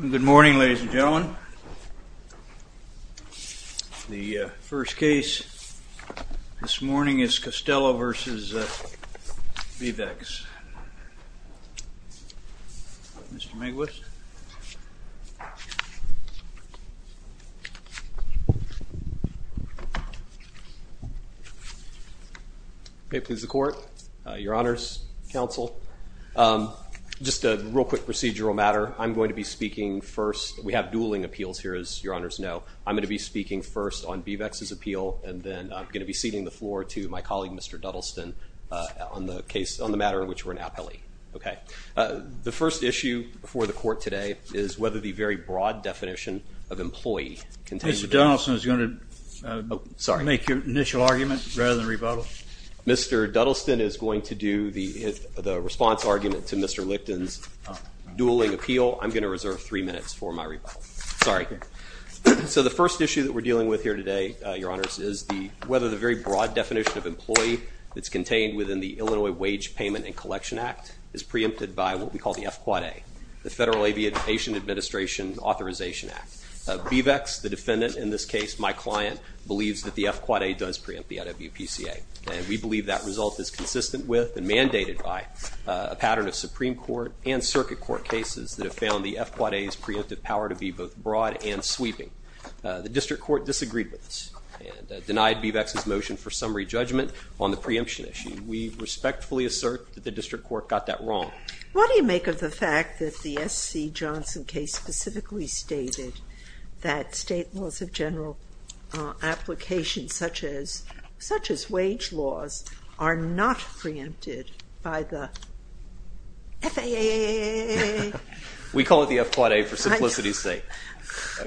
Good morning ladies and gentlemen. The first case this morning is Costello v. BeavEx. Mr. Just a real quick procedural matter. I'm going to be speaking first. We have dueling appeals here as your honors know. I'm going to be speaking first on BeavEx's appeal and then I'm going to be ceding the floor to my colleague Mr. Duddleston on the case on the matter in which we're an appellee. Okay. The first issue before the court today is whether the very broad definition of employee contains- Mr. Duddleston is going to- Sorry. Make your initial argument rather than rebuttal. Mr. Duddleston is going to make the response argument to Mr. Licton's dueling appeal. I'm going to reserve three minutes for my rebuttal. Sorry. So the first issue that we're dealing with here today, your honors, is whether the very broad definition of employee that's contained within the Illinois Wage Payment and Collection Act is preempted by what we call the FQA, the Federal Aviation Administration Authorization Act. BeavEx, the defendant in this case, my client, believes that the FQA does preempt the FWPCA and we believe that result is consistent with and a pattern of Supreme Court and circuit court cases that have found the FQA's preemptive power to be both broad and sweeping. The district court disagreed with us and denied BeavEx's motion for summary judgment on the preemption issue. We respectfully assert that the district court got that wrong. What do you make of the fact that the S.C. Johnson case specifically stated that state laws of general application such as wage laws are not preempted by the FAA? We call it the FQA for simplicity's sake.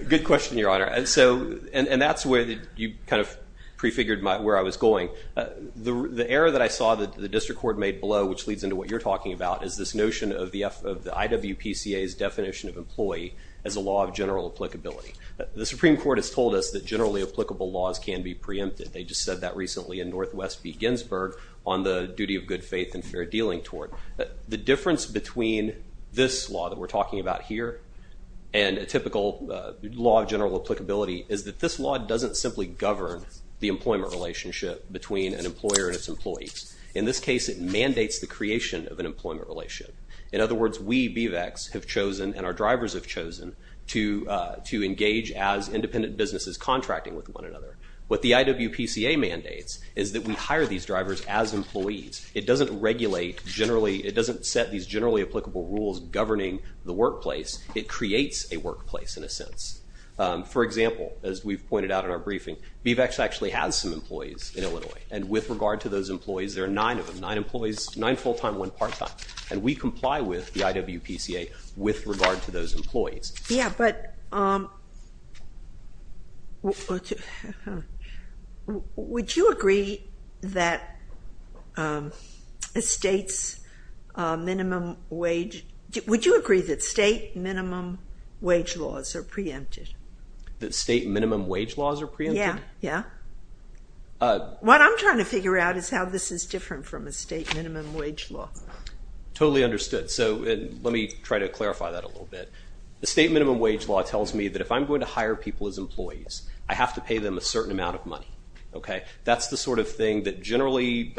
Good question, your honor. And that's where you kind of prefigured where I was going. The error that I saw that the district court made below, which leads into what you're talking about, is this notion of the F of the IWPCA's definition of employee as a law of general applicability. The Supreme Court has told us that generally applicable laws can be preempted. They just said that recently in Northwest v. Ginsburg on the duty of good faith and fair dealing tort. The difference between this law that we're talking about here and a typical law of general applicability is that this law doesn't simply govern the employment relationship between an employer and its employees. In this case, it mandates the creation of an employment relationship. In other words, we, BVEX, have chosen and our drivers have chosen to engage as independent businesses contracting with one another. What the IWPCA mandates is that we hire these drivers as employees. It doesn't regulate generally, it doesn't set these generally applicable rules governing the workplace. It creates a workplace in a sense. For example, as we've pointed out in our briefing, BVEX actually has some employees in Illinois. And with regard to those employees, there are nine of them. Nine employees, nine full time, one part time. And we comply with the IWPCA with regard to those employees. Yeah, but would you agree that a state's minimum wage, would you agree that state minimum wage laws are preempted? That state minimum wage laws are preempted? Yeah, yeah. What I'm trying to figure out is how this is different from a state minimum wage law. Totally understood. So let me try to clarify that a little bit. The state minimum wage law tells me that if I'm going to hire people as employees, I have to pay them a certain amount of money, okay? That's the sort of thing that generally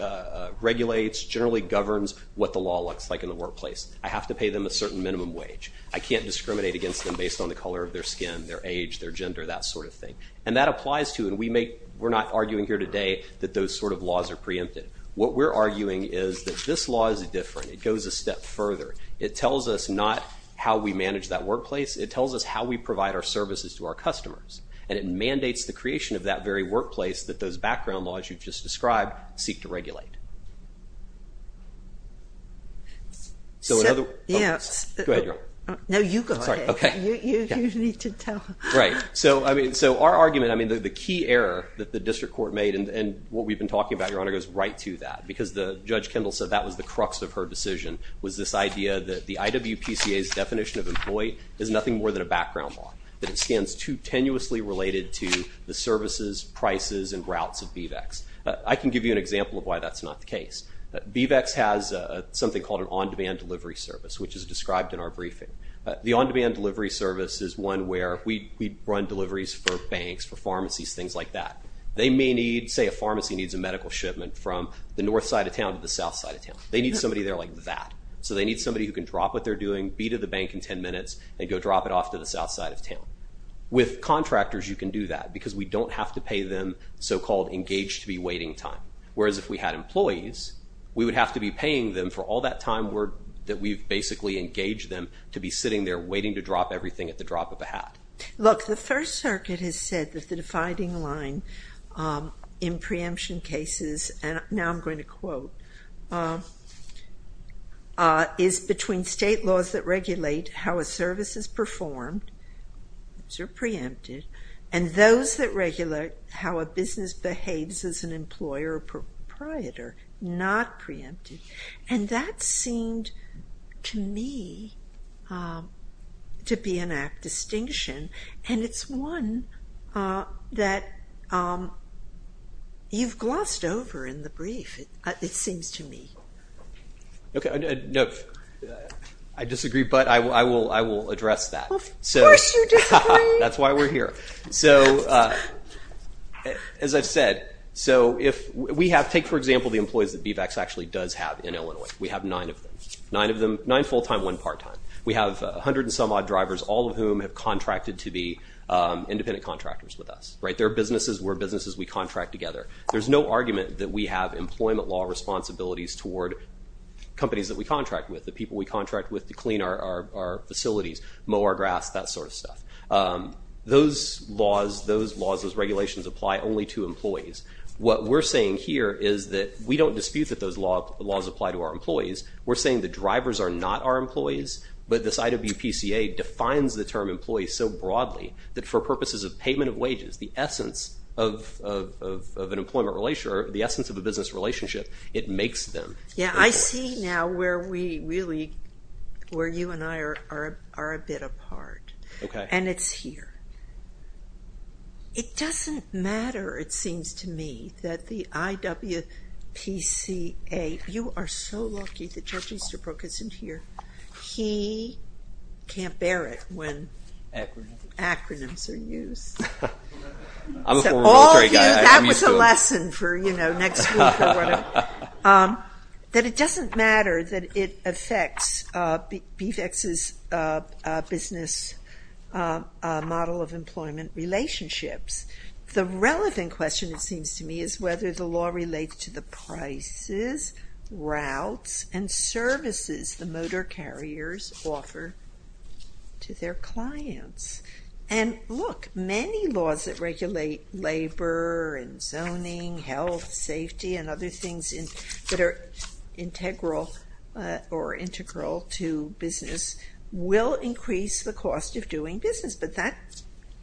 regulates, generally governs what the law looks like in the workplace. I have to pay them a certain minimum wage. I can't discriminate against them based on the color of their skin, their age, their gender, that sort of thing. And that applies to, and we make, we're not arguing here today that those sort of laws are preempted. What we're arguing is that this law is different. It goes a step further. It tells us not how we manage that workplace. It tells us how we provide our services to our customers. And it mandates the creation of that very workplace that those background laws you've just described seek to regulate. So in other words- Yes. Go ahead, Your Honor. No, you go ahead. Sorry, okay. You need to tell- Right. So, I mean, so our argument, I mean, the key error that the district court made, and what we've been talking about, Your Honor, goes right to that. Because Judge Kendall said that was the crux of her decision, was this idea that the IWPCA's definition of employee is nothing more than a background law. That it stands too tenuously related to the services, prices, and routes of BVEX. I can give you an example of why that's not the case. BVEX has something called an on-demand delivery service, which is described in our briefing. The on-demand delivery service is one where we run deliveries for banks, for pharmacies, things like that. They may need, say a pharmacy needs a medical shipment from the north side of town to the south side of town. They need somebody there like that. So they need somebody who can drop what they're doing, be to the bank in ten minutes, and go drop it off to the south side of town. With contractors, you can do that, because we don't have to pay them so-called engaged-to-be waiting time. Whereas if we had employees, we would have to be paying them for all that time that we've basically engaged them to be sitting there waiting to drop everything at the drop of a hat. Look, the First Circuit has said that the dividing line in preemption cases now I'm going to quote, is between state laws that regulate how a service is performed, those are preempted, and those that regulate how a business behaves as an employer or proprietor, not preempted. And that seemed to me to be an apt distinction. And it's one that you've glossed over in the brief, it seems to me. Okay. I disagree, but I will address that. Of course you disagree. That's why we're here. So as I've said, take for example the employees that BVACS actually does have in Illinois. We have nine of them, nine full-time, one part-time. We have 100 and some odd drivers, all of whom have contracted to be independent contractors with us, right? They're businesses, we're businesses, we contract together. There's no argument that we have employment law responsibilities toward companies that we contract with, the people we contract with to clean our facilities, mow our grass, that sort of stuff. Those laws, those regulations apply only to employees. What we're saying here is that we don't dispute that those laws apply to our employees. We're saying the drivers are not our employees, but this IWPCA defines the term employee so broadly that for purposes of payment of wages, the essence of an employment relationship, the essence of a business relationship, it makes them. Yeah, I see now where we really, where you and I are a bit apart. Okay. And it's here. It doesn't matter, it seems to me, that the IWPCA, you are so lucky that George Easterbrook isn't here. He can't bear it when acronyms are used. I'm a horrible trade guy. That was a lesson for, you know, next week or whatever. That it doesn't matter that it affects BVEX's business model of employment relationships. The relevant question, it seems to me, is whether the law relates to the prices routes and services the motor carriers offer to their clients. And look, many laws that regulate labor and zoning, health, safety, and other things that are integral to business will increase the cost of doing business, but that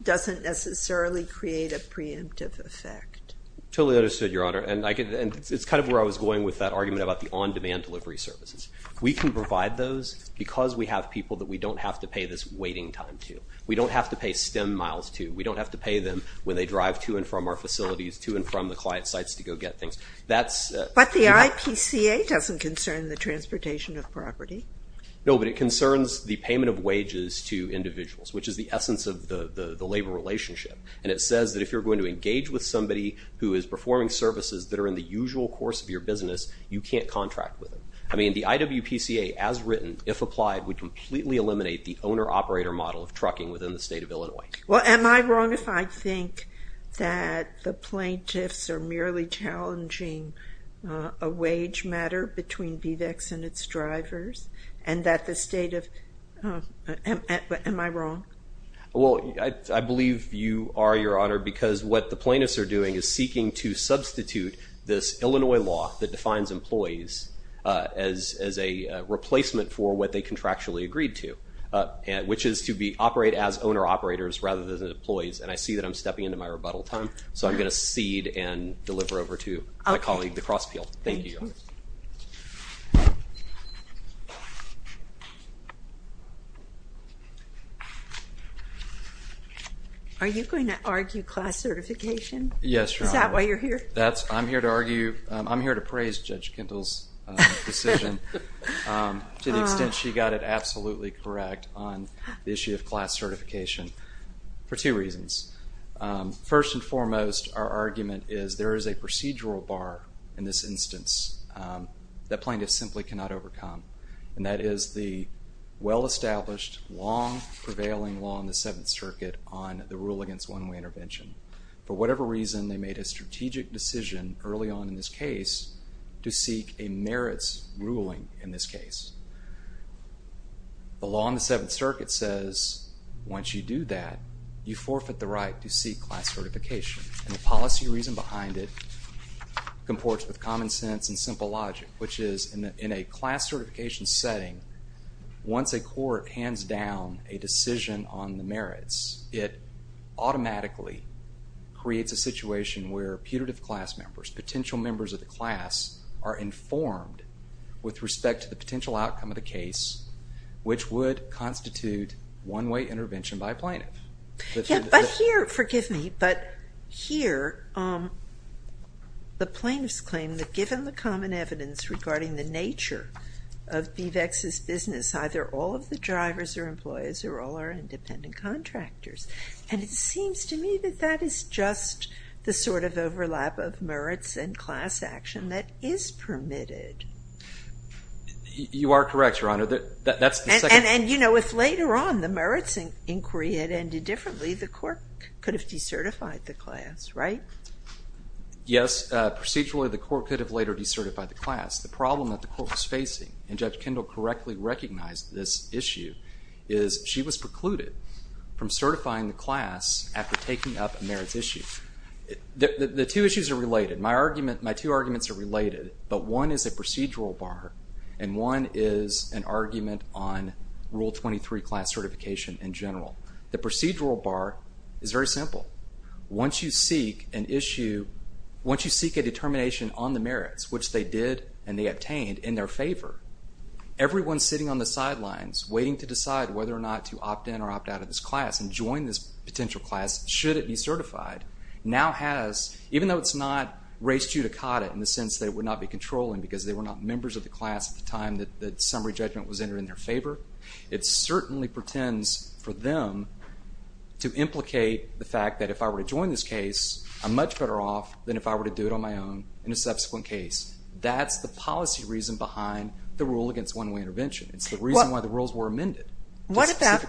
doesn't necessarily create a preemptive effect. Totally understood, Your Honor. And it's kind of where I was going with that argument about the on-demand delivery services. We can provide those because we have people that we don't have to pay this waiting time to. We don't have to pay STEM miles to. We don't have to pay them when they drive to and from our facilities, to and from the client sites to go get things. That's- But the IPCA doesn't concern the transportation of property. No, but it concerns the payment of wages to individuals, which is the essence of the labor relationship. And it says that if you're going to engage with somebody who is performing services that are in the usual course of your business, you can't contract with them. I mean, the IWPCA, as written, if applied, would completely eliminate the owner-operator model of trucking within the state of Illinois. Well, am I wrong if I think that the plaintiffs are merely challenging a wage matter between BVEX and its drivers? And that the state of- Am I wrong? Well, I believe you are, Your Honor, because what the plaintiffs are doing is seeking to substitute this Illinois law that defines employees as a replacement for what they contractually agreed to, which is to operate as owner-operators rather than as employees. And I see that I'm stepping into my rebuttal time, so I'm going to cede and deliver over to my colleague, the cross-peel. Thank you, Your Honor. Are you going to argue class certification? Yes, Your Honor. Is that why you're here? That's- I'm here to argue- I'm here to praise Judge Kendall's decision to the extent she got it absolutely correct on the issue of class certification for two reasons. First and foremost, our argument is there is a procedural bar in this instance that plaintiffs simply cannot overcome, and that is the well-established, long-prevailing law in the Seventh Circuit on the rule against one-way intervention. For whatever reason, they made a strategic decision early on in this case to seek a merits ruling in this case. The law in the Seventh Circuit says, once you do that, you forfeit the right to seek class certification. And the policy reason behind it comports with common sense and simple logic, which is, in a class certification setting, once a court hands down a decision on the merits, it automatically creates a situation where putative class members, potential members of the class, are informed with respect to the potential outcome of the case, which would constitute one-way intervention by a plaintiff. But here, forgive me, but here, um, the plaintiffs claim that given the common evidence regarding the nature of BVEX's business, either all of the drivers are employers or all are independent contractors. And it seems to me that that is just the sort of overlap of merits and class action that is permitted. MR. WHEELER. You are correct, Your Honor. That's the second— JUSTICE KAGAN. And, you know, if later on the merits inquiry had ended differently, the court could have decertified the class, right? MR. WHEELER. Yes, procedurally, the court could have later decertified the class. The problem that the court was facing, and Judge Kendall correctly recognized this issue, is she was precluded from certifying the class after taking up a merits issue. The two issues are related. My argument—my two arguments are related, but one is a procedural bar, and one is an argument on Rule 23 class certification in general. The procedural bar is very simple. Once you seek an issue— once you seek a determination on the merits, which they did and they obtained in their favor, everyone sitting on the sidelines, waiting to decide whether or not to opt in or opt out of this class and join this potential class, should it be certified, now has, even though it's not race judicata in the sense that it would not be controlling because they were not members of the class at the time that the summary judgment was entered in their favor, it certainly pretends for them to implicate the fact that if I were to join this case, I'm much better off than if I were to do it on my own in a subsequent case. That's the policy reason behind the rule against one-way intervention. It's the reason why the rules were amended. What about—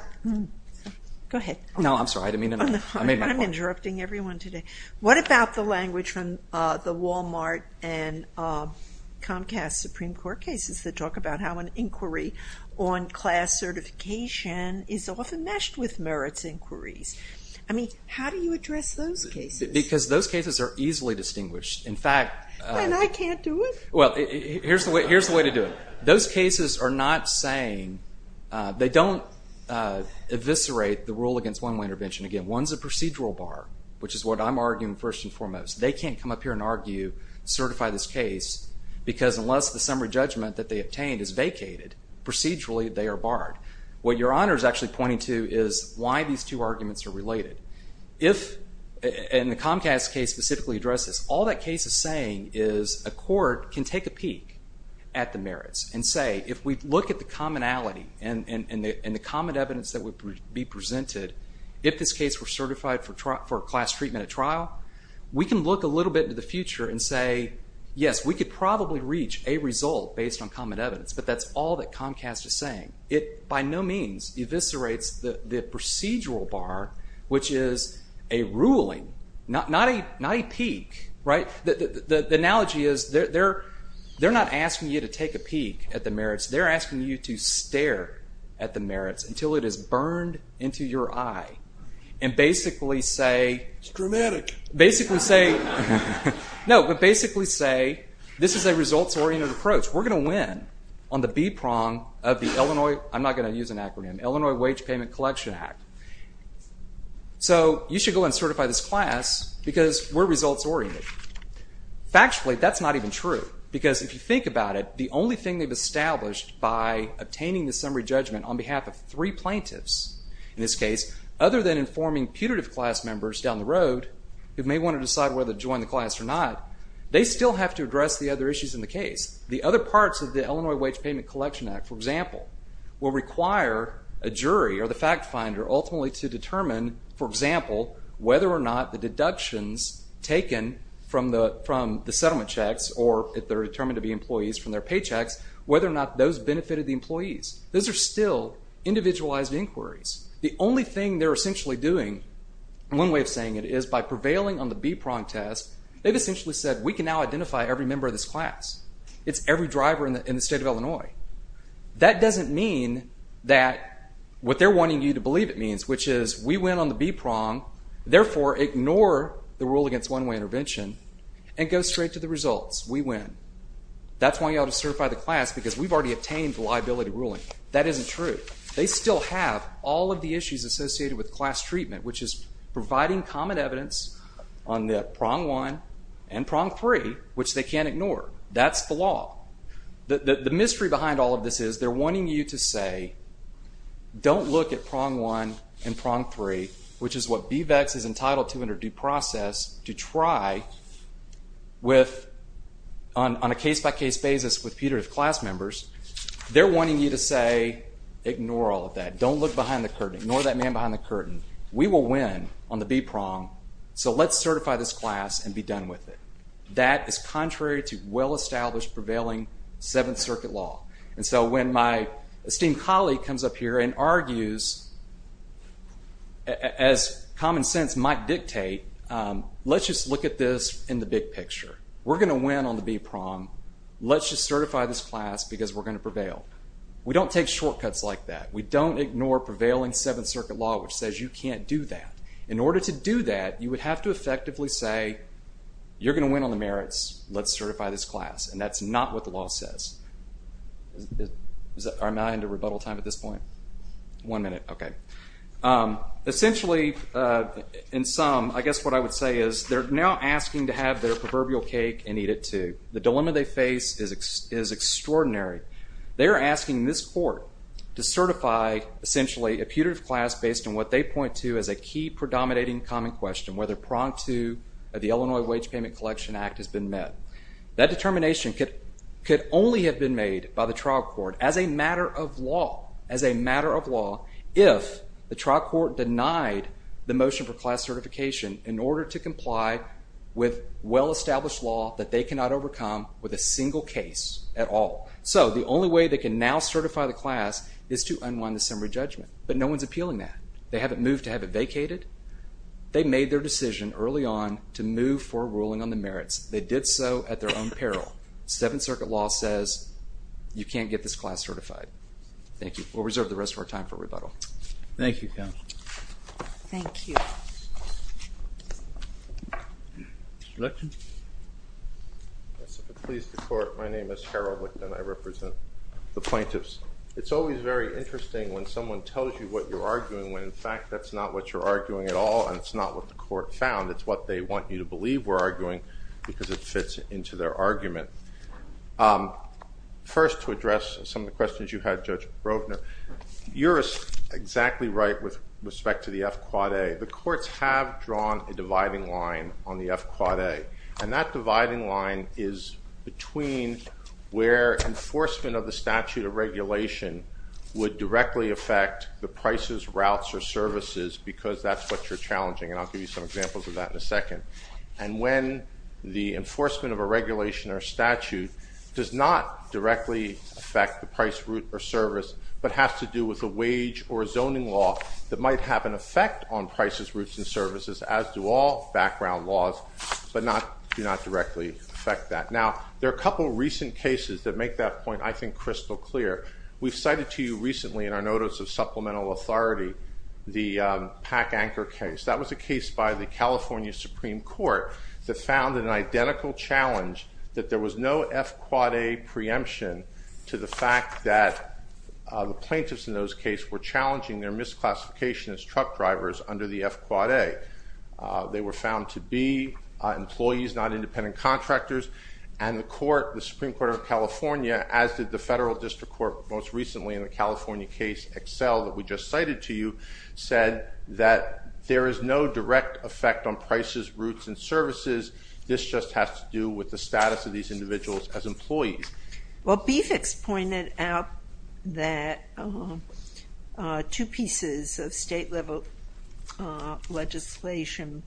Go ahead. No, I'm sorry. I didn't mean to— I'm interrupting everyone today. What about the language from the Walmart and Comcast Supreme Court cases that talk about how an inquiry on class certification is often meshed with merits inquiries? How do you address those cases? Because those cases are easily distinguished. In fact— And I can't do it? Well, here's the way to do it. Those cases are not saying— they don't eviscerate the rule against one-way intervention. Again, one's a procedural bar, which is what I'm arguing first and foremost. They can't come up here and argue, certify this case, because unless the summary judgment that they obtained is vacated, procedurally, they are barred. What Your Honor is actually pointing to is why these two arguments are related. If— And the Comcast case specifically addresses this. All that case is saying is a court can take a peek at the merits and say, if we look at the commonality and the common evidence that would be presented, if this case were certified for class treatment at trial, we can look a little bit into the future and say, yes, we could probably reach a result based on common evidence, but that's all that Comcast is saying. It by no means eviscerates the procedural bar, which is a ruling, not a peek, right? The analogy is they're not asking you to take a peek at the merits. They're asking you to stare at the merits until it is burned into your eye and basically say— It's dramatic. Basically say— No, but basically say this is a results-oriented approach. We're going to win on the B-prong of the Illinois— I'm not going to use an acronym— Illinois Wage Payment Collection Act. So you should go and certify this class because we're results-oriented. Factually, that's not even true because if you think about it, the only thing they've established by obtaining the summary judgment on behalf of three plaintiffs in this case, other than informing putative class members down the road who may want to decide whether to join the class or not, they still have to address the other issues in the case. The other parts of the Illinois Wage Payment Collection Act, for example, will require a jury or the fact finder ultimately to determine, for example, whether or not the deductions taken from the settlement checks or if they're determined to be employees from their paychecks, whether or not those benefited the employees. Those are still individualized inquiries. The only thing they're essentially doing— One way of saying it is by prevailing on the B-prong test, they've essentially said, we can now identify every member of this class. It's every driver in the state of Illinois. That doesn't mean what they're wanting you to believe it means, which is we win on the B-prong, therefore ignore the rule against one-way intervention and go straight to the results. We win. That's why you ought to certify the class because we've already obtained the liability ruling. That isn't true. They still have all of the issues associated with class treatment, which is providing common evidence on the prong one and prong three, which they can't ignore. That's the law. The mystery behind all of this is they're wanting you to say, don't look at prong one and prong three, which is what BVEX is entitled to under due process to try with— on a case-by-case basis with putative class members. They're wanting you to say, ignore all of that. Don't look behind the curtain. Ignore that man behind the curtain. We will win on the B-prong, so let's certify this class and be done with it. That is contrary to well-established, prevailing Seventh Circuit law. And so when my esteemed colleague comes up here and argues, as common sense might dictate, let's just look at this in the big picture. We're going to win on the B-prong. Let's just certify this class because we're going to prevail. We don't take shortcuts like that. We don't ignore prevailing Seventh Circuit law, which says you can't do that. In order to do that, you would have to effectively say, you're going to win on the merits. Let's certify this class. And that's not what the law says. Am I into rebuttal time at this point? One minute. Okay. Essentially, in sum, I guess what I would say is they're now asking to have their proverbial cake and eat it too. The dilemma they face is extraordinary. They're asking this court to certify, essentially, a putative class based on what they point to as a key predominating common question, whether pronged to the Illinois Wage Payment Collection Act has been met. That determination could only have been made by the trial court as a matter of law, as a matter of law, if the trial court denied the motion for class certification in order to comply with well-established law that they cannot overcome with a single case at all. So the only way they can now certify the class is to unwind the summary judgment. But no one's appealing that. They haven't moved to have it vacated. They made their decision early on to move for a ruling on the merits. They did so at their own peril. Seventh Circuit law says you can't get this class certified. Thank you. We'll reserve the rest of our time for rebuttal. Thank you, counsel. Thank you. Mr. Lichten? Yes, if it pleases the court, my name is Harold Lichten. I represent the plaintiffs. It's always very interesting when someone tells you what you're arguing when in fact that's not what you're arguing at all and it's not what the court found. It's what they want you to believe we're arguing because it fits into their argument. First, to address some of the questions you had, Judge Brovner, you're exactly right with respect to the F-Quad A. The courts have drawn a dividing line on the F-Quad A. And that dividing line is between where enforcement of the statute of regulation would directly affect the prices, routes, or services because that's what you're challenging. And I'll give you some examples of that in a second. And when the enforcement of a regulation or statute does not directly affect the price, route, or service but has to do with a wage or a zoning law that might have an effect on prices, routes, and services as do all background laws but do not directly affect that. Now, there are a couple of recent cases that make that point, I think, crystal clear. We've cited to you recently in our notice of supplemental authority the Pack Anchor case. That was a case by the California Supreme Court that found an identical challenge that there was no F-Quad A preemption to the fact that the plaintiffs in those cases were challenging their misclassification as truck drivers under the F-Quad A. They were found to be employees, not independent contractors. And the Supreme Court of California, as did the Federal District Court most recently in the California case Excel that we just cited to you, said that there is no direct effect on prices, routes, and services. This just has to do with the status of these individuals as employees. Well, BFICS pointed out that two pieces of state-level legislation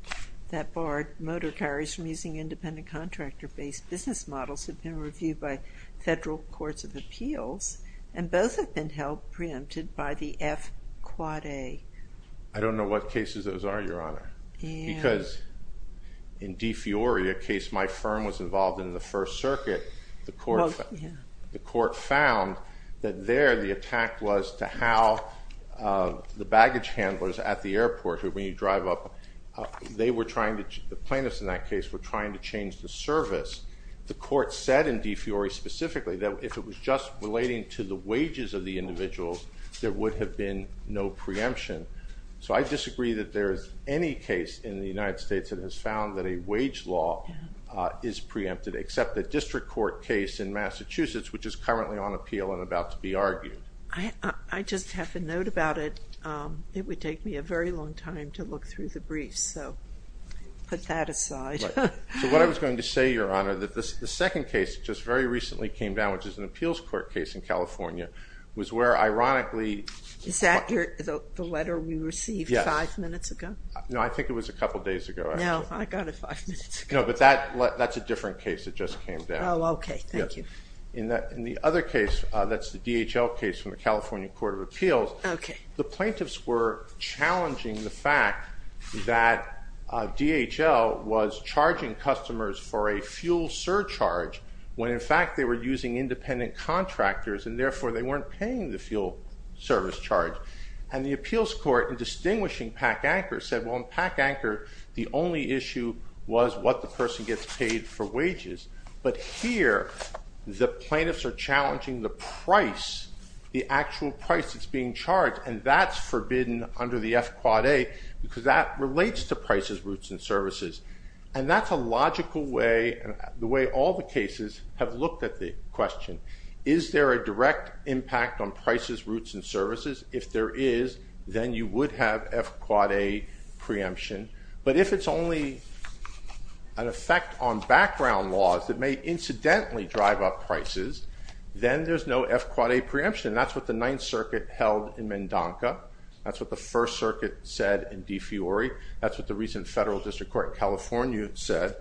that bar motor carriers from using independent contractor-based business models have been reviewed by federal courts of appeals, and both have been held preempted by the F-Quad A. I don't know what cases those are, Your Honor, because in DeFiori, a case my firm was involved in the First Circuit, the court found that there the attack was to how the baggage handlers at the airport, who when you drive up, the plaintiffs in that case were trying to change the service. The court said in DeFiori specifically that if it was just relating to the wages of the individuals, there would have been no preemption. So I disagree that there's any case in the United States that has found that a wage law is preempted, except the District Court case in Massachusetts, which is currently on appeal and about to be argued. I just have a note about it. It would take me a very long time to look through the briefs, so put that aside. So what I was going to say, Your Honor, that the second case just very recently came down, which is an appeals court case in California, was where ironically- Is that the letter we received five minutes ago? No, I think it was a couple days ago. No, I got it five minutes ago. No, but that's a different case that just came down. Oh, okay, thank you. In the other case, that's the DHL case from the California Court of Appeals, the plaintiffs were challenging the fact that DHL was charging customers for a fuel surcharge when in fact they were using independent contractors and therefore they weren't paying the fuel service charge. And the appeals court, in distinguishing PAC-ANCHOR, said, well, in PAC-ANCHOR, the only issue was what the person gets paid for wages. But here, the plaintiffs are challenging the price, the actual price that's being charged, and that's forbidden under the F-Quad-A because that relates to prices, routes, and services. And that's a logical way, the way all the cases have looked at the question. Is there a direct impact on prices, routes, and services? If there is, then you would have F-Quad-A preemption. But if it's only an effect on background laws that may incidentally drive up prices, then there's no F-Quad-A preemption. That's what the Ninth Circuit held in Mendonca. That's what the First Circuit said in De Fiori. That's what the recent Federal District Court in California said.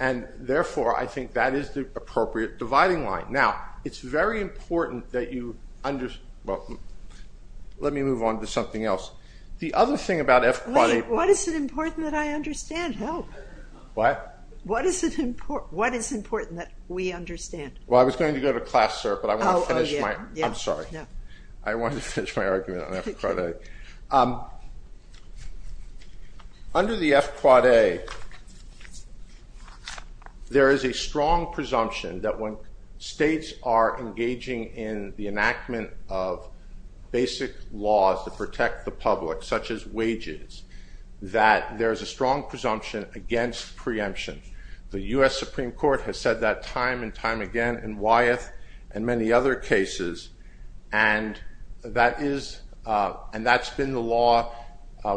And therefore, I think that is the appropriate dividing line. Now, it's very important that you understand... Well, let me move on to something else. The other thing about F-Quad-A... What is it important that I understand? No. What? What is it important that we understand? Well, I was going to go to class, sir, but I want to finish my... I'm sorry. I wanted to finish my argument on F-Quad-A. Under the F-Quad-A, there is a strong presumption that when states are engaging in the enactment of basic laws to protect the public, such as wages, that there is a strong presumption against preemption. The U.S. Supreme Court has said that time and time again in Wyeth and many other cases. And that is... And that's been the law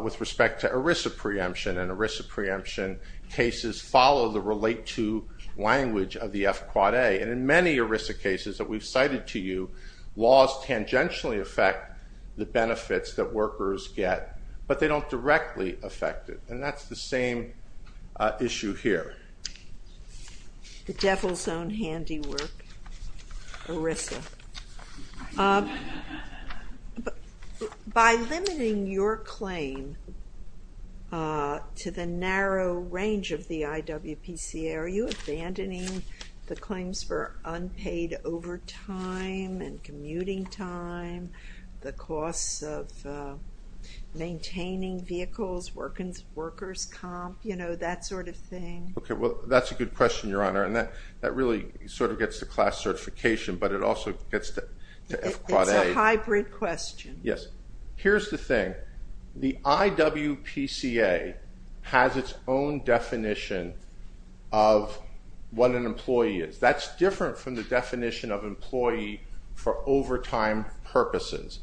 with respect to ERISA preemption. And ERISA preemption cases follow the relate-to language of the F-Quad-A. And in many ERISA cases that we've cited to you, laws tangentially affect the benefits that workers get, but they don't directly affect it. And that's the same issue here. The devil's own handiwork, ERISA. By limiting your claim to the narrow range of the IWPCA, are you abandoning the claims for unpaid overtime and commuting time, the costs of maintaining vehicles, workers' comp, you know, that sort of thing? Okay, well, that's a good question, Your Honor. And that really sort of gets to class certification, but it also gets to F-Quad-A. It's a hybrid question. Yes. Here's the thing. The IWPCA has its own definition of what an employee is. That's different from the definition of employee for overtime purposes.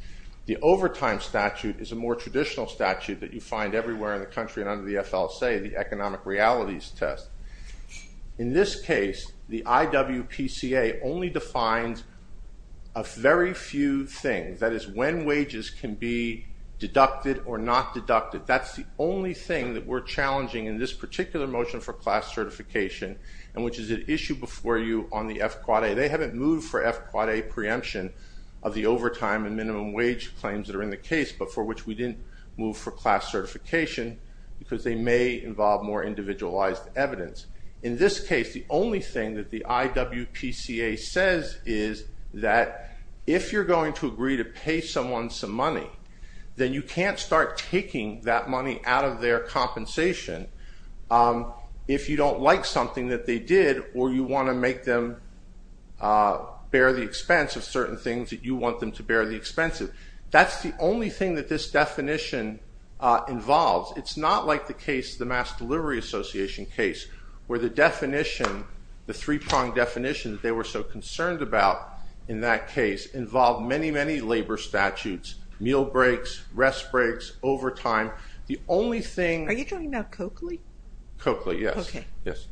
The overtime statute is a more traditional statute that you find everywhere in the country under the FLSA, the economic realities test. In this case, the IWPCA only defines a very few things. That is, when wages can be deducted or not deducted. That's the only thing that we're challenging in this particular motion for class certification, and which is an issue before you on the F-Quad-A. They haven't moved for F-Quad-A preemption of the overtime and minimum wage claims that are in the case, but for which we didn't move for class certification. Because they may involve more individualized evidence. In this case, the only thing that the IWPCA says is that if you're going to agree to pay someone some money, then you can't start taking that money out of their compensation if you don't like something that they did, or you want to make them bear the expense of certain things that you want them to bear the expenses. That's the only thing that this definition involves. It's not like the case, the Mass Delivery Association case, where the definition, the three-pronged definition that they were so concerned about in that case involved many, many labor statutes. Meal breaks, rest breaks, overtime. The only thing- Are you talking about Coakley? Coakley, yes. Okay. Yes.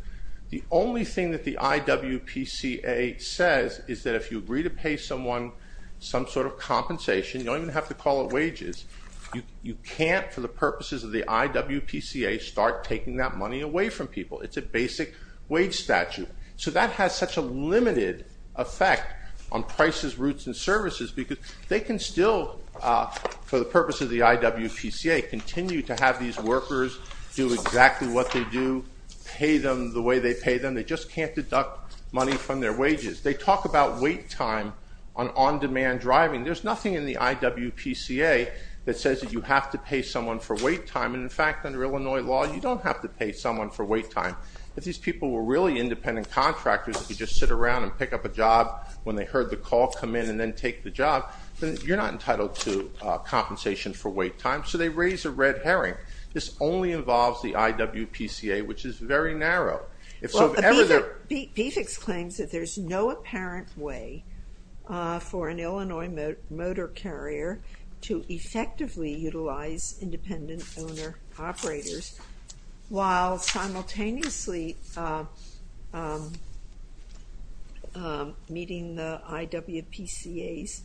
The only thing that the IWPCA says is that if you agree to pay someone some sort of compensation, you don't even have to call it wages, you can't, for the purposes of the IWPCA, start taking that money away from people. It's a basic wage statute. So that has such a limited effect on prices, routes, and services because they can still, for the purpose of the IWPCA, continue to have these workers do exactly what they do, pay them the way they pay them. They just can't deduct money from their wages. They talk about wait time on on-demand driving. There's nothing in the IWPCA that says that you have to pay someone for wait time. And in fact, under Illinois law, you don't have to pay someone for wait time. If these people were really independent contractors that could just sit around and pick up a job when they heard the call, come in, and then take the job, you're not entitled to compensation for wait time. So they raise a red herring. This only involves the IWPCA, which is very narrow. If so, if ever there- BPHC claims that there's no apparent way for an Illinois motor carrier to effectively utilize independent owner operators while simultaneously meeting the IWPCA's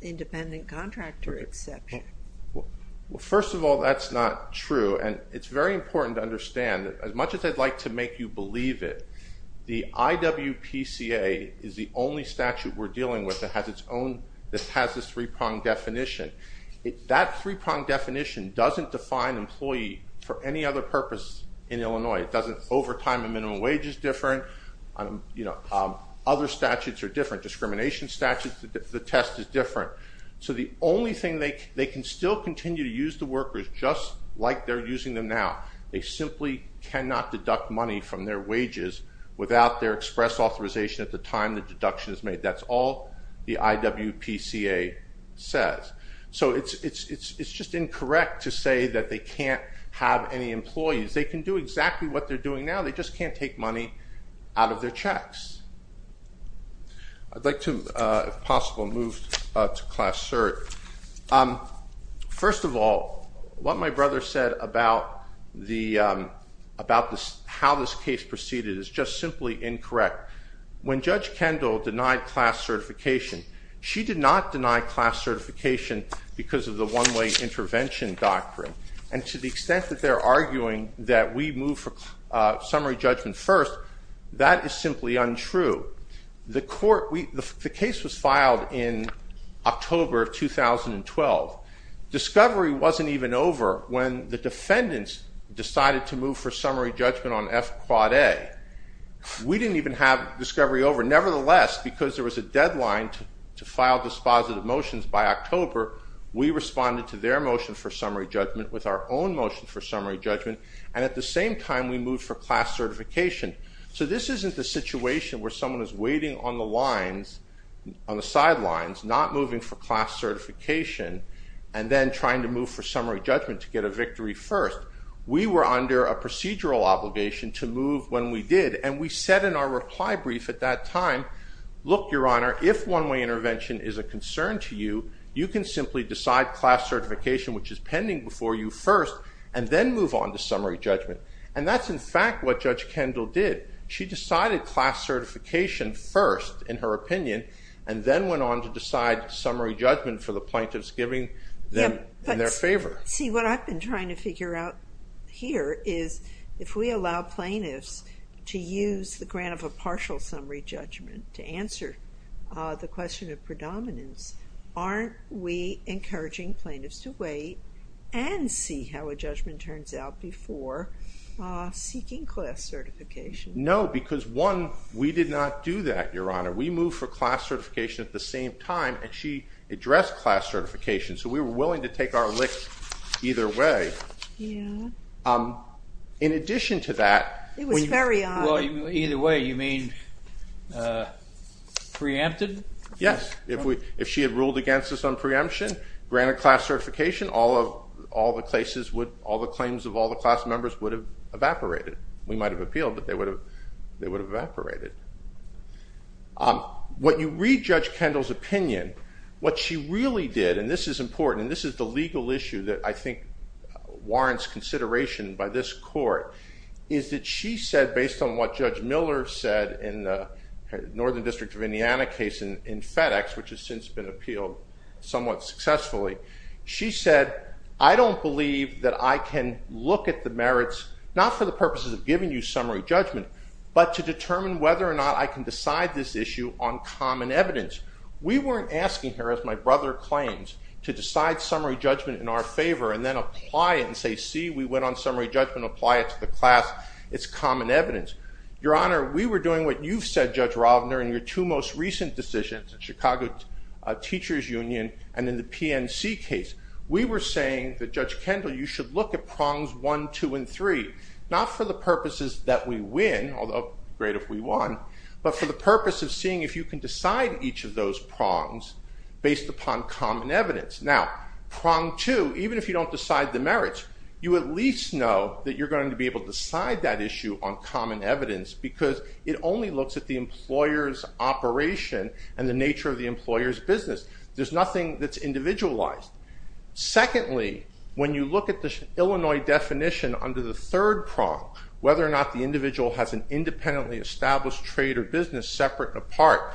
independent contractor exception. Well, first of all, that's not true. And it's very important to understand as much as I'd like to make you believe it, the IWPCA is the only statute we're dealing with that has this three-pronged definition. That three-pronged definition doesn't define employee for any other purpose in Illinois. It doesn't- Overtime and minimum wage is different. Other statutes are different. Discrimination statute, the test is different. So the only thing- They can still continue to use the workers just like they're using them now. They simply cannot deduct money from their wages without their express authorization at the time the deduction is made. That's all the IWPCA says. So it's just incorrect to say that they can't have any employees. They can do exactly what they're doing now. They just can't take money out of their checks. I'd like to, if possible, move to Class Cert. First of all, what my brother said about how this case proceeded is just simply incorrect. When Judge Kendall denied Class Certification, she did not deny Class Certification because of the one-way intervention doctrine. And to the extent that they're arguing that we move for summary judgment first, that is simply untrue. The case was filed in October of 2012. Discovery wasn't even over when the defendants decided to move for summary judgment on F-Quad A. We didn't even have Discovery over. Nevertheless, because there was a deadline to file dispositive motions by October, we responded to their motion for summary judgment with our own motion for summary judgment, and at the same time, we moved for Class Certification. So this isn't the situation where someone is waiting on the lines, on the sidelines, not moving for Class Certification and then trying to move for summary judgment to get a victory first. We were under a procedural obligation to move when we did, and we said in our reply brief at that time, look, Your Honor, if one-way intervention is a concern to you, you can simply decide Class Certification, which is pending before you, first, and then move on to summary judgment. And that's, in fact, what Judge Kendall did. She decided Class Certification first, in her opinion, and then went on to decide summary judgment for the plaintiffs, giving them in their favor. See, what I've been trying to figure out here is if we allow plaintiffs to use the grant of a partial summary judgment to answer the question of predominance, aren't we encouraging plaintiffs to wait and see how a judgment turns out before seeking Class Certification? No, because one, we did not do that, Your Honor. We moved for Class Certification at the same time, and she addressed Class Certification. So we were willing to take our lick either way. Yeah. In addition to that... It was very odd. Well, either way, you mean preempted? Yes, if she had ruled against us on preemption, granted Class Certification, all the claims of all the class members would have evaporated. We might have appealed, but they would have evaporated. When you read Judge Kendall's opinion, what she really did, and this is important, and this is the legal issue that I think warrants consideration by this court, is that she said, based on what Judge Miller said in the Northern District of Indiana case in FedEx, which has since been appealed somewhat successfully, she said, I don't believe that I can look at the merits, not for the purposes of giving you summary judgment, but to determine whether or not I can decide this issue on common evidence. We weren't asking her, as my brother claims, to decide summary judgment in our favor and then apply it and say, see, we went on summary judgment, apply it to the class. It's common evidence. Your Honor, we were doing what you've said, Judge Ravner, in your two most recent decisions in Chicago Teachers Union and in the PNC case. We were saying that, Judge Kendall, you should look at prongs one, two, and three, not for the purposes that we win, although great if we won, but for the purpose of seeing if you can decide each of those prongs based upon common evidence. Now, prong two, even if you don't decide the merits, you at least know that you're going to be able to decide that issue on common evidence because it only looks at the employer's operation and the nature of the employer's business. There's nothing that's individualized. Secondly, when you look at the Illinois definition under the third prong, whether or not the individual has an independently established trade or business separate and apart,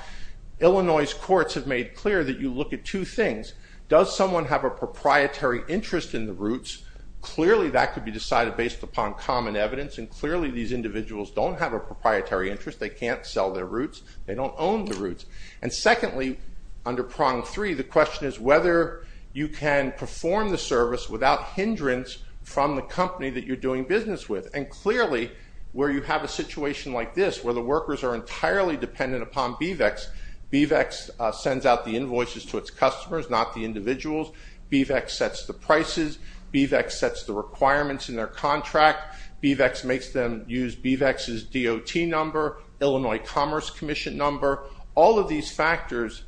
Illinois courts have made clear that you look at two things. Does someone have a proprietary interest in the roots? Clearly, that could be decided based upon common evidence, and clearly, these individuals don't have a proprietary interest. They can't sell their roots. They don't own the roots. And secondly, under prong three, the question is whether you can perform the service without hindrance from the company that you're doing business with. And clearly, where you have a situation like this, where the workers are entirely dependent upon BVEX, BVEX sends out the invoices to its customers, not the individuals. BVEX sets the prices. BVEX sets the requirements in their contract. BVEX makes them use BVEX's DOT number, Illinois Commerce Commission number. All of these factors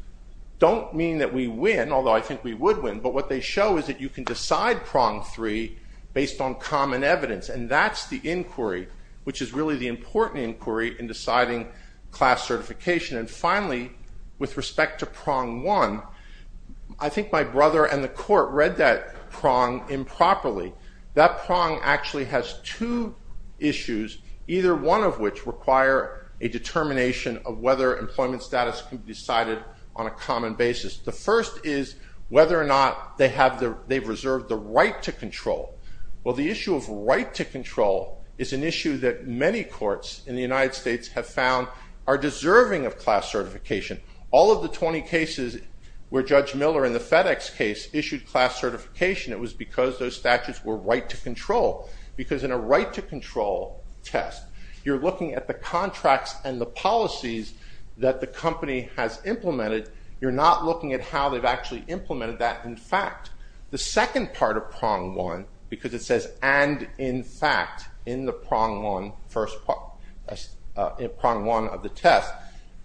don't mean that we win, although I think we would win, but what they show is that you can decide prong three based on common evidence, and that's the inquiry, which is really the important inquiry in deciding class certification. And finally, with respect to prong one, I think my brother and the court read that prong improperly. That prong actually has two issues, either one of which require a determination of whether employment status can be decided on a common basis. The first is whether or not they've reserved the right to control. Well, the issue of right to control is an issue that many courts in the United States have found are deserving of class certification. All of the 20 cases where Judge Miller in the FedEx case issued class certification, it was because those statutes were right to control, because in a right to control test, you're looking at the contracts and the policies that the company has implemented. You're not looking at how they've actually implemented that in fact. The second part of prong one, because it says and in fact in the prong one of the test,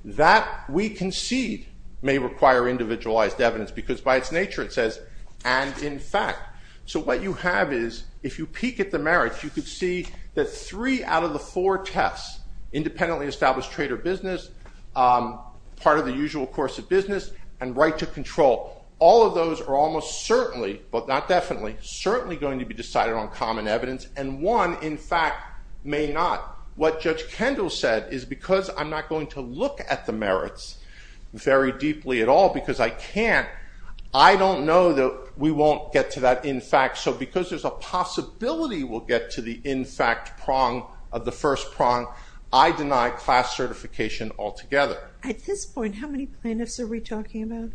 that we concede may require individualized evidence, because by its nature, it says and in fact. So what you have is, if you peek at the merits, you could see that three out of the four tests, independently established trade or business, part of the usual course of business, and right to control, all of those are almost certainly, but not definitely, certainly going to be decided on common evidence. And one, in fact, may not. What Judge Kendall said is, because I'm not going to look at the merits very deeply at all, because I can't, I don't know that we won't get to that in fact. So because there's a possibility we'll get to the in fact prong of the first prong, I deny class certification altogether. At this point, how many plaintiffs are we talking about?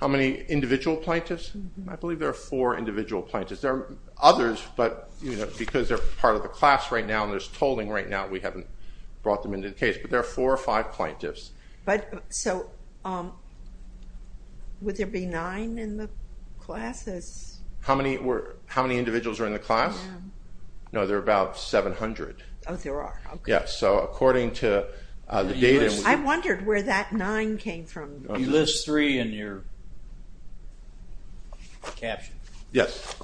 How many individual plaintiffs? I believe there are four individual plaintiffs. There are others, but because they're part of the class right now, and there's tolling right now, we haven't brought them into the case, but there are four or five plaintiffs. But so would there be nine in the classes? How many individuals are in the class? No, there are about 700. Oh, there are. Yes, so according to the data... I wondered where that nine came from. You list three in your caption. Yes.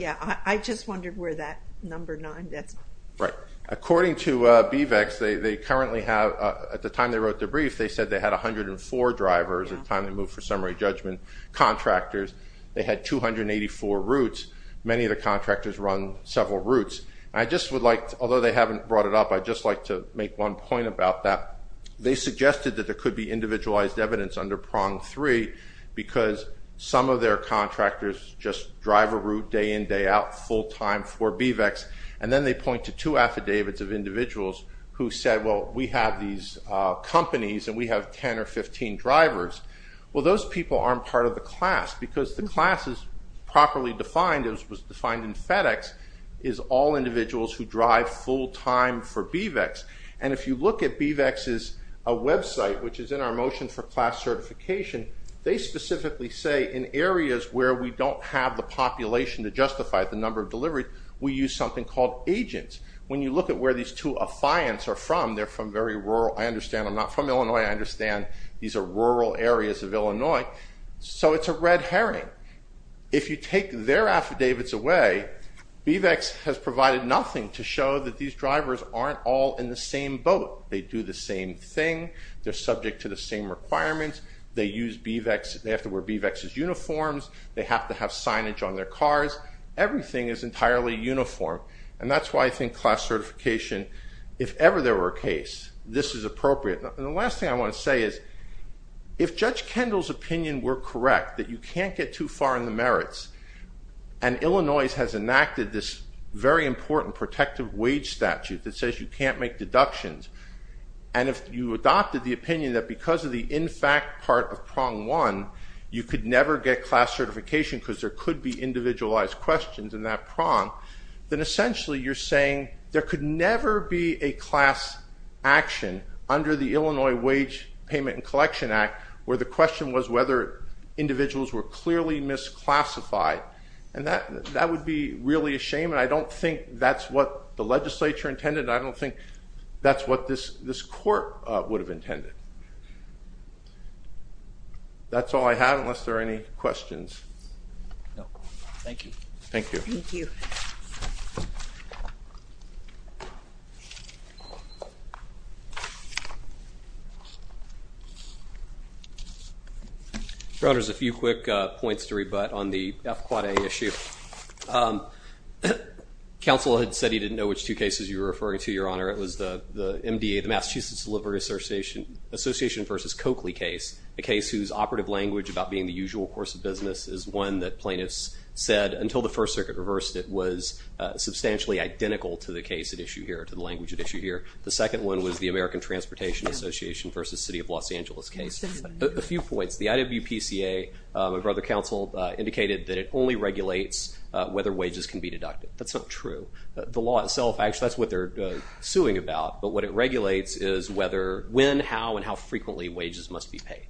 Yeah, I just wondered where that number nine, that's... Right. According to BVEX, they currently have, at the time they wrote the brief, they said they had 104 drivers at the time they moved for summary judgment contractors. They had 284 routes. Many of the contractors run several routes. I just would like, although they haven't brought it up, I'd just like to make one point about that. They suggested that there could be individualized evidence under prong three, because some of their contractors just drive a route day in, day out, full time for BVEX. And then they point to two affidavits of individuals who said, well, we have these companies and we have 10 or 15 drivers. Well, those people aren't part of the class because the class is properly defined, it was defined in FedEx, is all individuals who drive full time for BVEX. And if you look at BVEX's website, which is in our motion for class certification, they specifically say, in areas where we don't have the population to justify the number of deliveries, we use something called agents. When you look at where these two affiants are from, they're from very rural, I understand I'm not from Illinois, I understand these are rural areas of Illinois. So it's a red herring. If you take their affidavits away, BVEX has provided nothing to show that these drivers aren't all in the same boat. They do the same thing. They're subject to the same requirements. They use BVEX, they have to wear BVEX's uniforms. They have to have signage on their cars. Everything is entirely uniform. And that's why I think class certification, if ever there were a case, this is appropriate. And the last thing I want to say is, if Judge Kendall's opinion were correct, that you can't get too far in the merits, and Illinois has enacted this very important protective wage statute that says you can't make deductions. And if you adopted the opinion that because of the in fact part of prong one, you could never get class certification because there could be individualized questions in that prong, then essentially you're saying there could never be a class action under the Illinois Wage Payment and Collection Act where the question was whether individuals were clearly misclassified. And that would be really a shame. And I don't think that's what the legislature intended. I don't think that's what this court would have intended. That's all I have, unless there are any questions. No. Thank you. Thank you. Thank you. Your Honor, there's a few quick points to rebut on the FQA issue. Counsel had said he didn't know which two cases you were referring to, Your Honor. It was the MDA, the Massachusetts Delivery Association, Association v. Coakley case, a case whose operative language about being the usual course of business is one that plaintiffs said until the First Circuit reversed it was substantially identical to the case at issue here, to the language at issue here. The second one was the American Transportation Association v. City of Los Angeles case. A few points. The IWPCA, my brother counsel, indicated that it only regulates whether wages can be deducted. That's not true. The law itself, actually that's what they're suing about, but what it regulates is whether, when, how, and how frequently wages must be paid.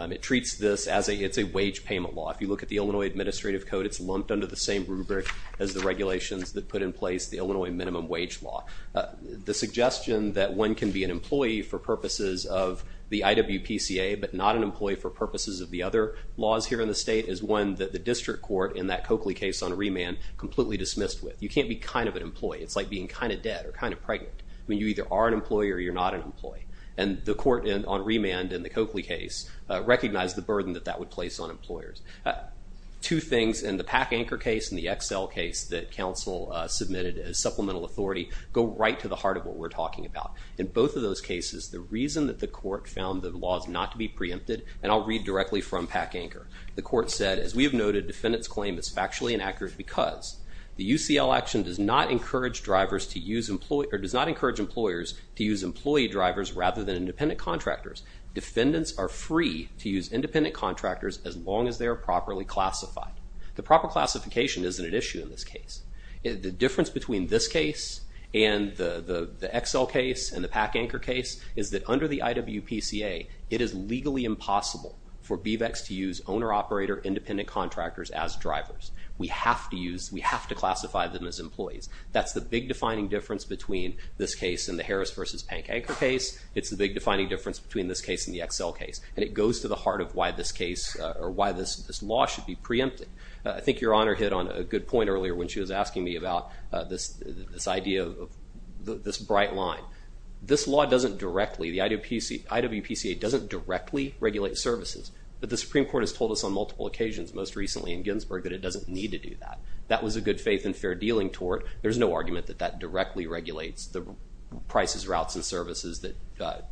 It treats this as a, it's a wage payment law. If you look at the Illinois Administrative Code, it's lumped under the same rubric as the regulations that put in place the Illinois minimum wage law. The suggestion that one can be an employee for purposes of the IWPCA but not an employee for purposes of the other laws here in the state is one that the district court in that Coakley case on remand completely dismissed with. You can't be kind of an employee. It's like being kind of dead or kind of pregnant. I mean, you either are an employee or you're not an employee. And the court on remand in the Coakley case recognized the burden that that would place on employers. Two things in the PAC-ANCHOR case and the XL case that counsel submitted as supplemental authority go right to the heart of what we're talking about. In both of those cases, the reason that the court found the laws not to be preempted, and I'll read directly from PAC-ANCHOR. The court said, as we have noted, defendant's claim is factually inaccurate because the UCL action does not encourage drivers to use employee, or does not encourage employers to use employee drivers rather than independent contractors. Defendants are free to use independent contractors as long as they are properly classified. The proper classification isn't an issue in this case. The difference between this case and the XL case and the PAC-ANCHOR case is that under the IWPCA, it is legally impossible for BVACs to use owner-operator independent contractors as drivers. We have to use, we have to classify them as employees. That's the big defining difference between this case and the Harris versus PAC-ANCHOR case. It's the big defining difference between this case and the XL case, and it goes to the heart of why this case, or why this law should be preempted. I think Your Honor hit on a good point earlier when she was asking me about this idea of this bright line. This law doesn't directly, the IWPCA doesn't directly regulate services, but the Supreme Court has told us on multiple occasions, most recently in Ginsburg, that it doesn't need to do that. That was a good faith and fair dealing tort. There's no argument that that directly regulates prices, routes, and services that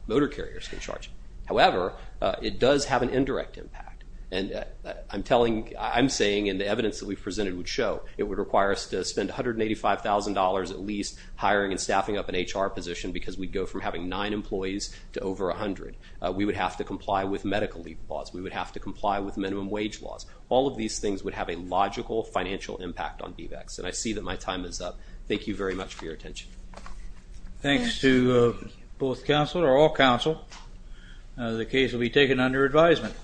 motor carriers can charge. However, it does have an indirect impact, and I'm telling, I'm saying in the evidence that we presented would show it would require us to spend $185,000 at least hiring and staffing up an HR position because we'd go from having nine employees to over 100. We would have to comply with medical leave laws. We would have to comply with minimum wage laws. would have a logical financial impact on BVACs, and I see that my time is up. Thank you very much for your attention. Thanks to both counsel, or all counsel. The case will be taken under advisement.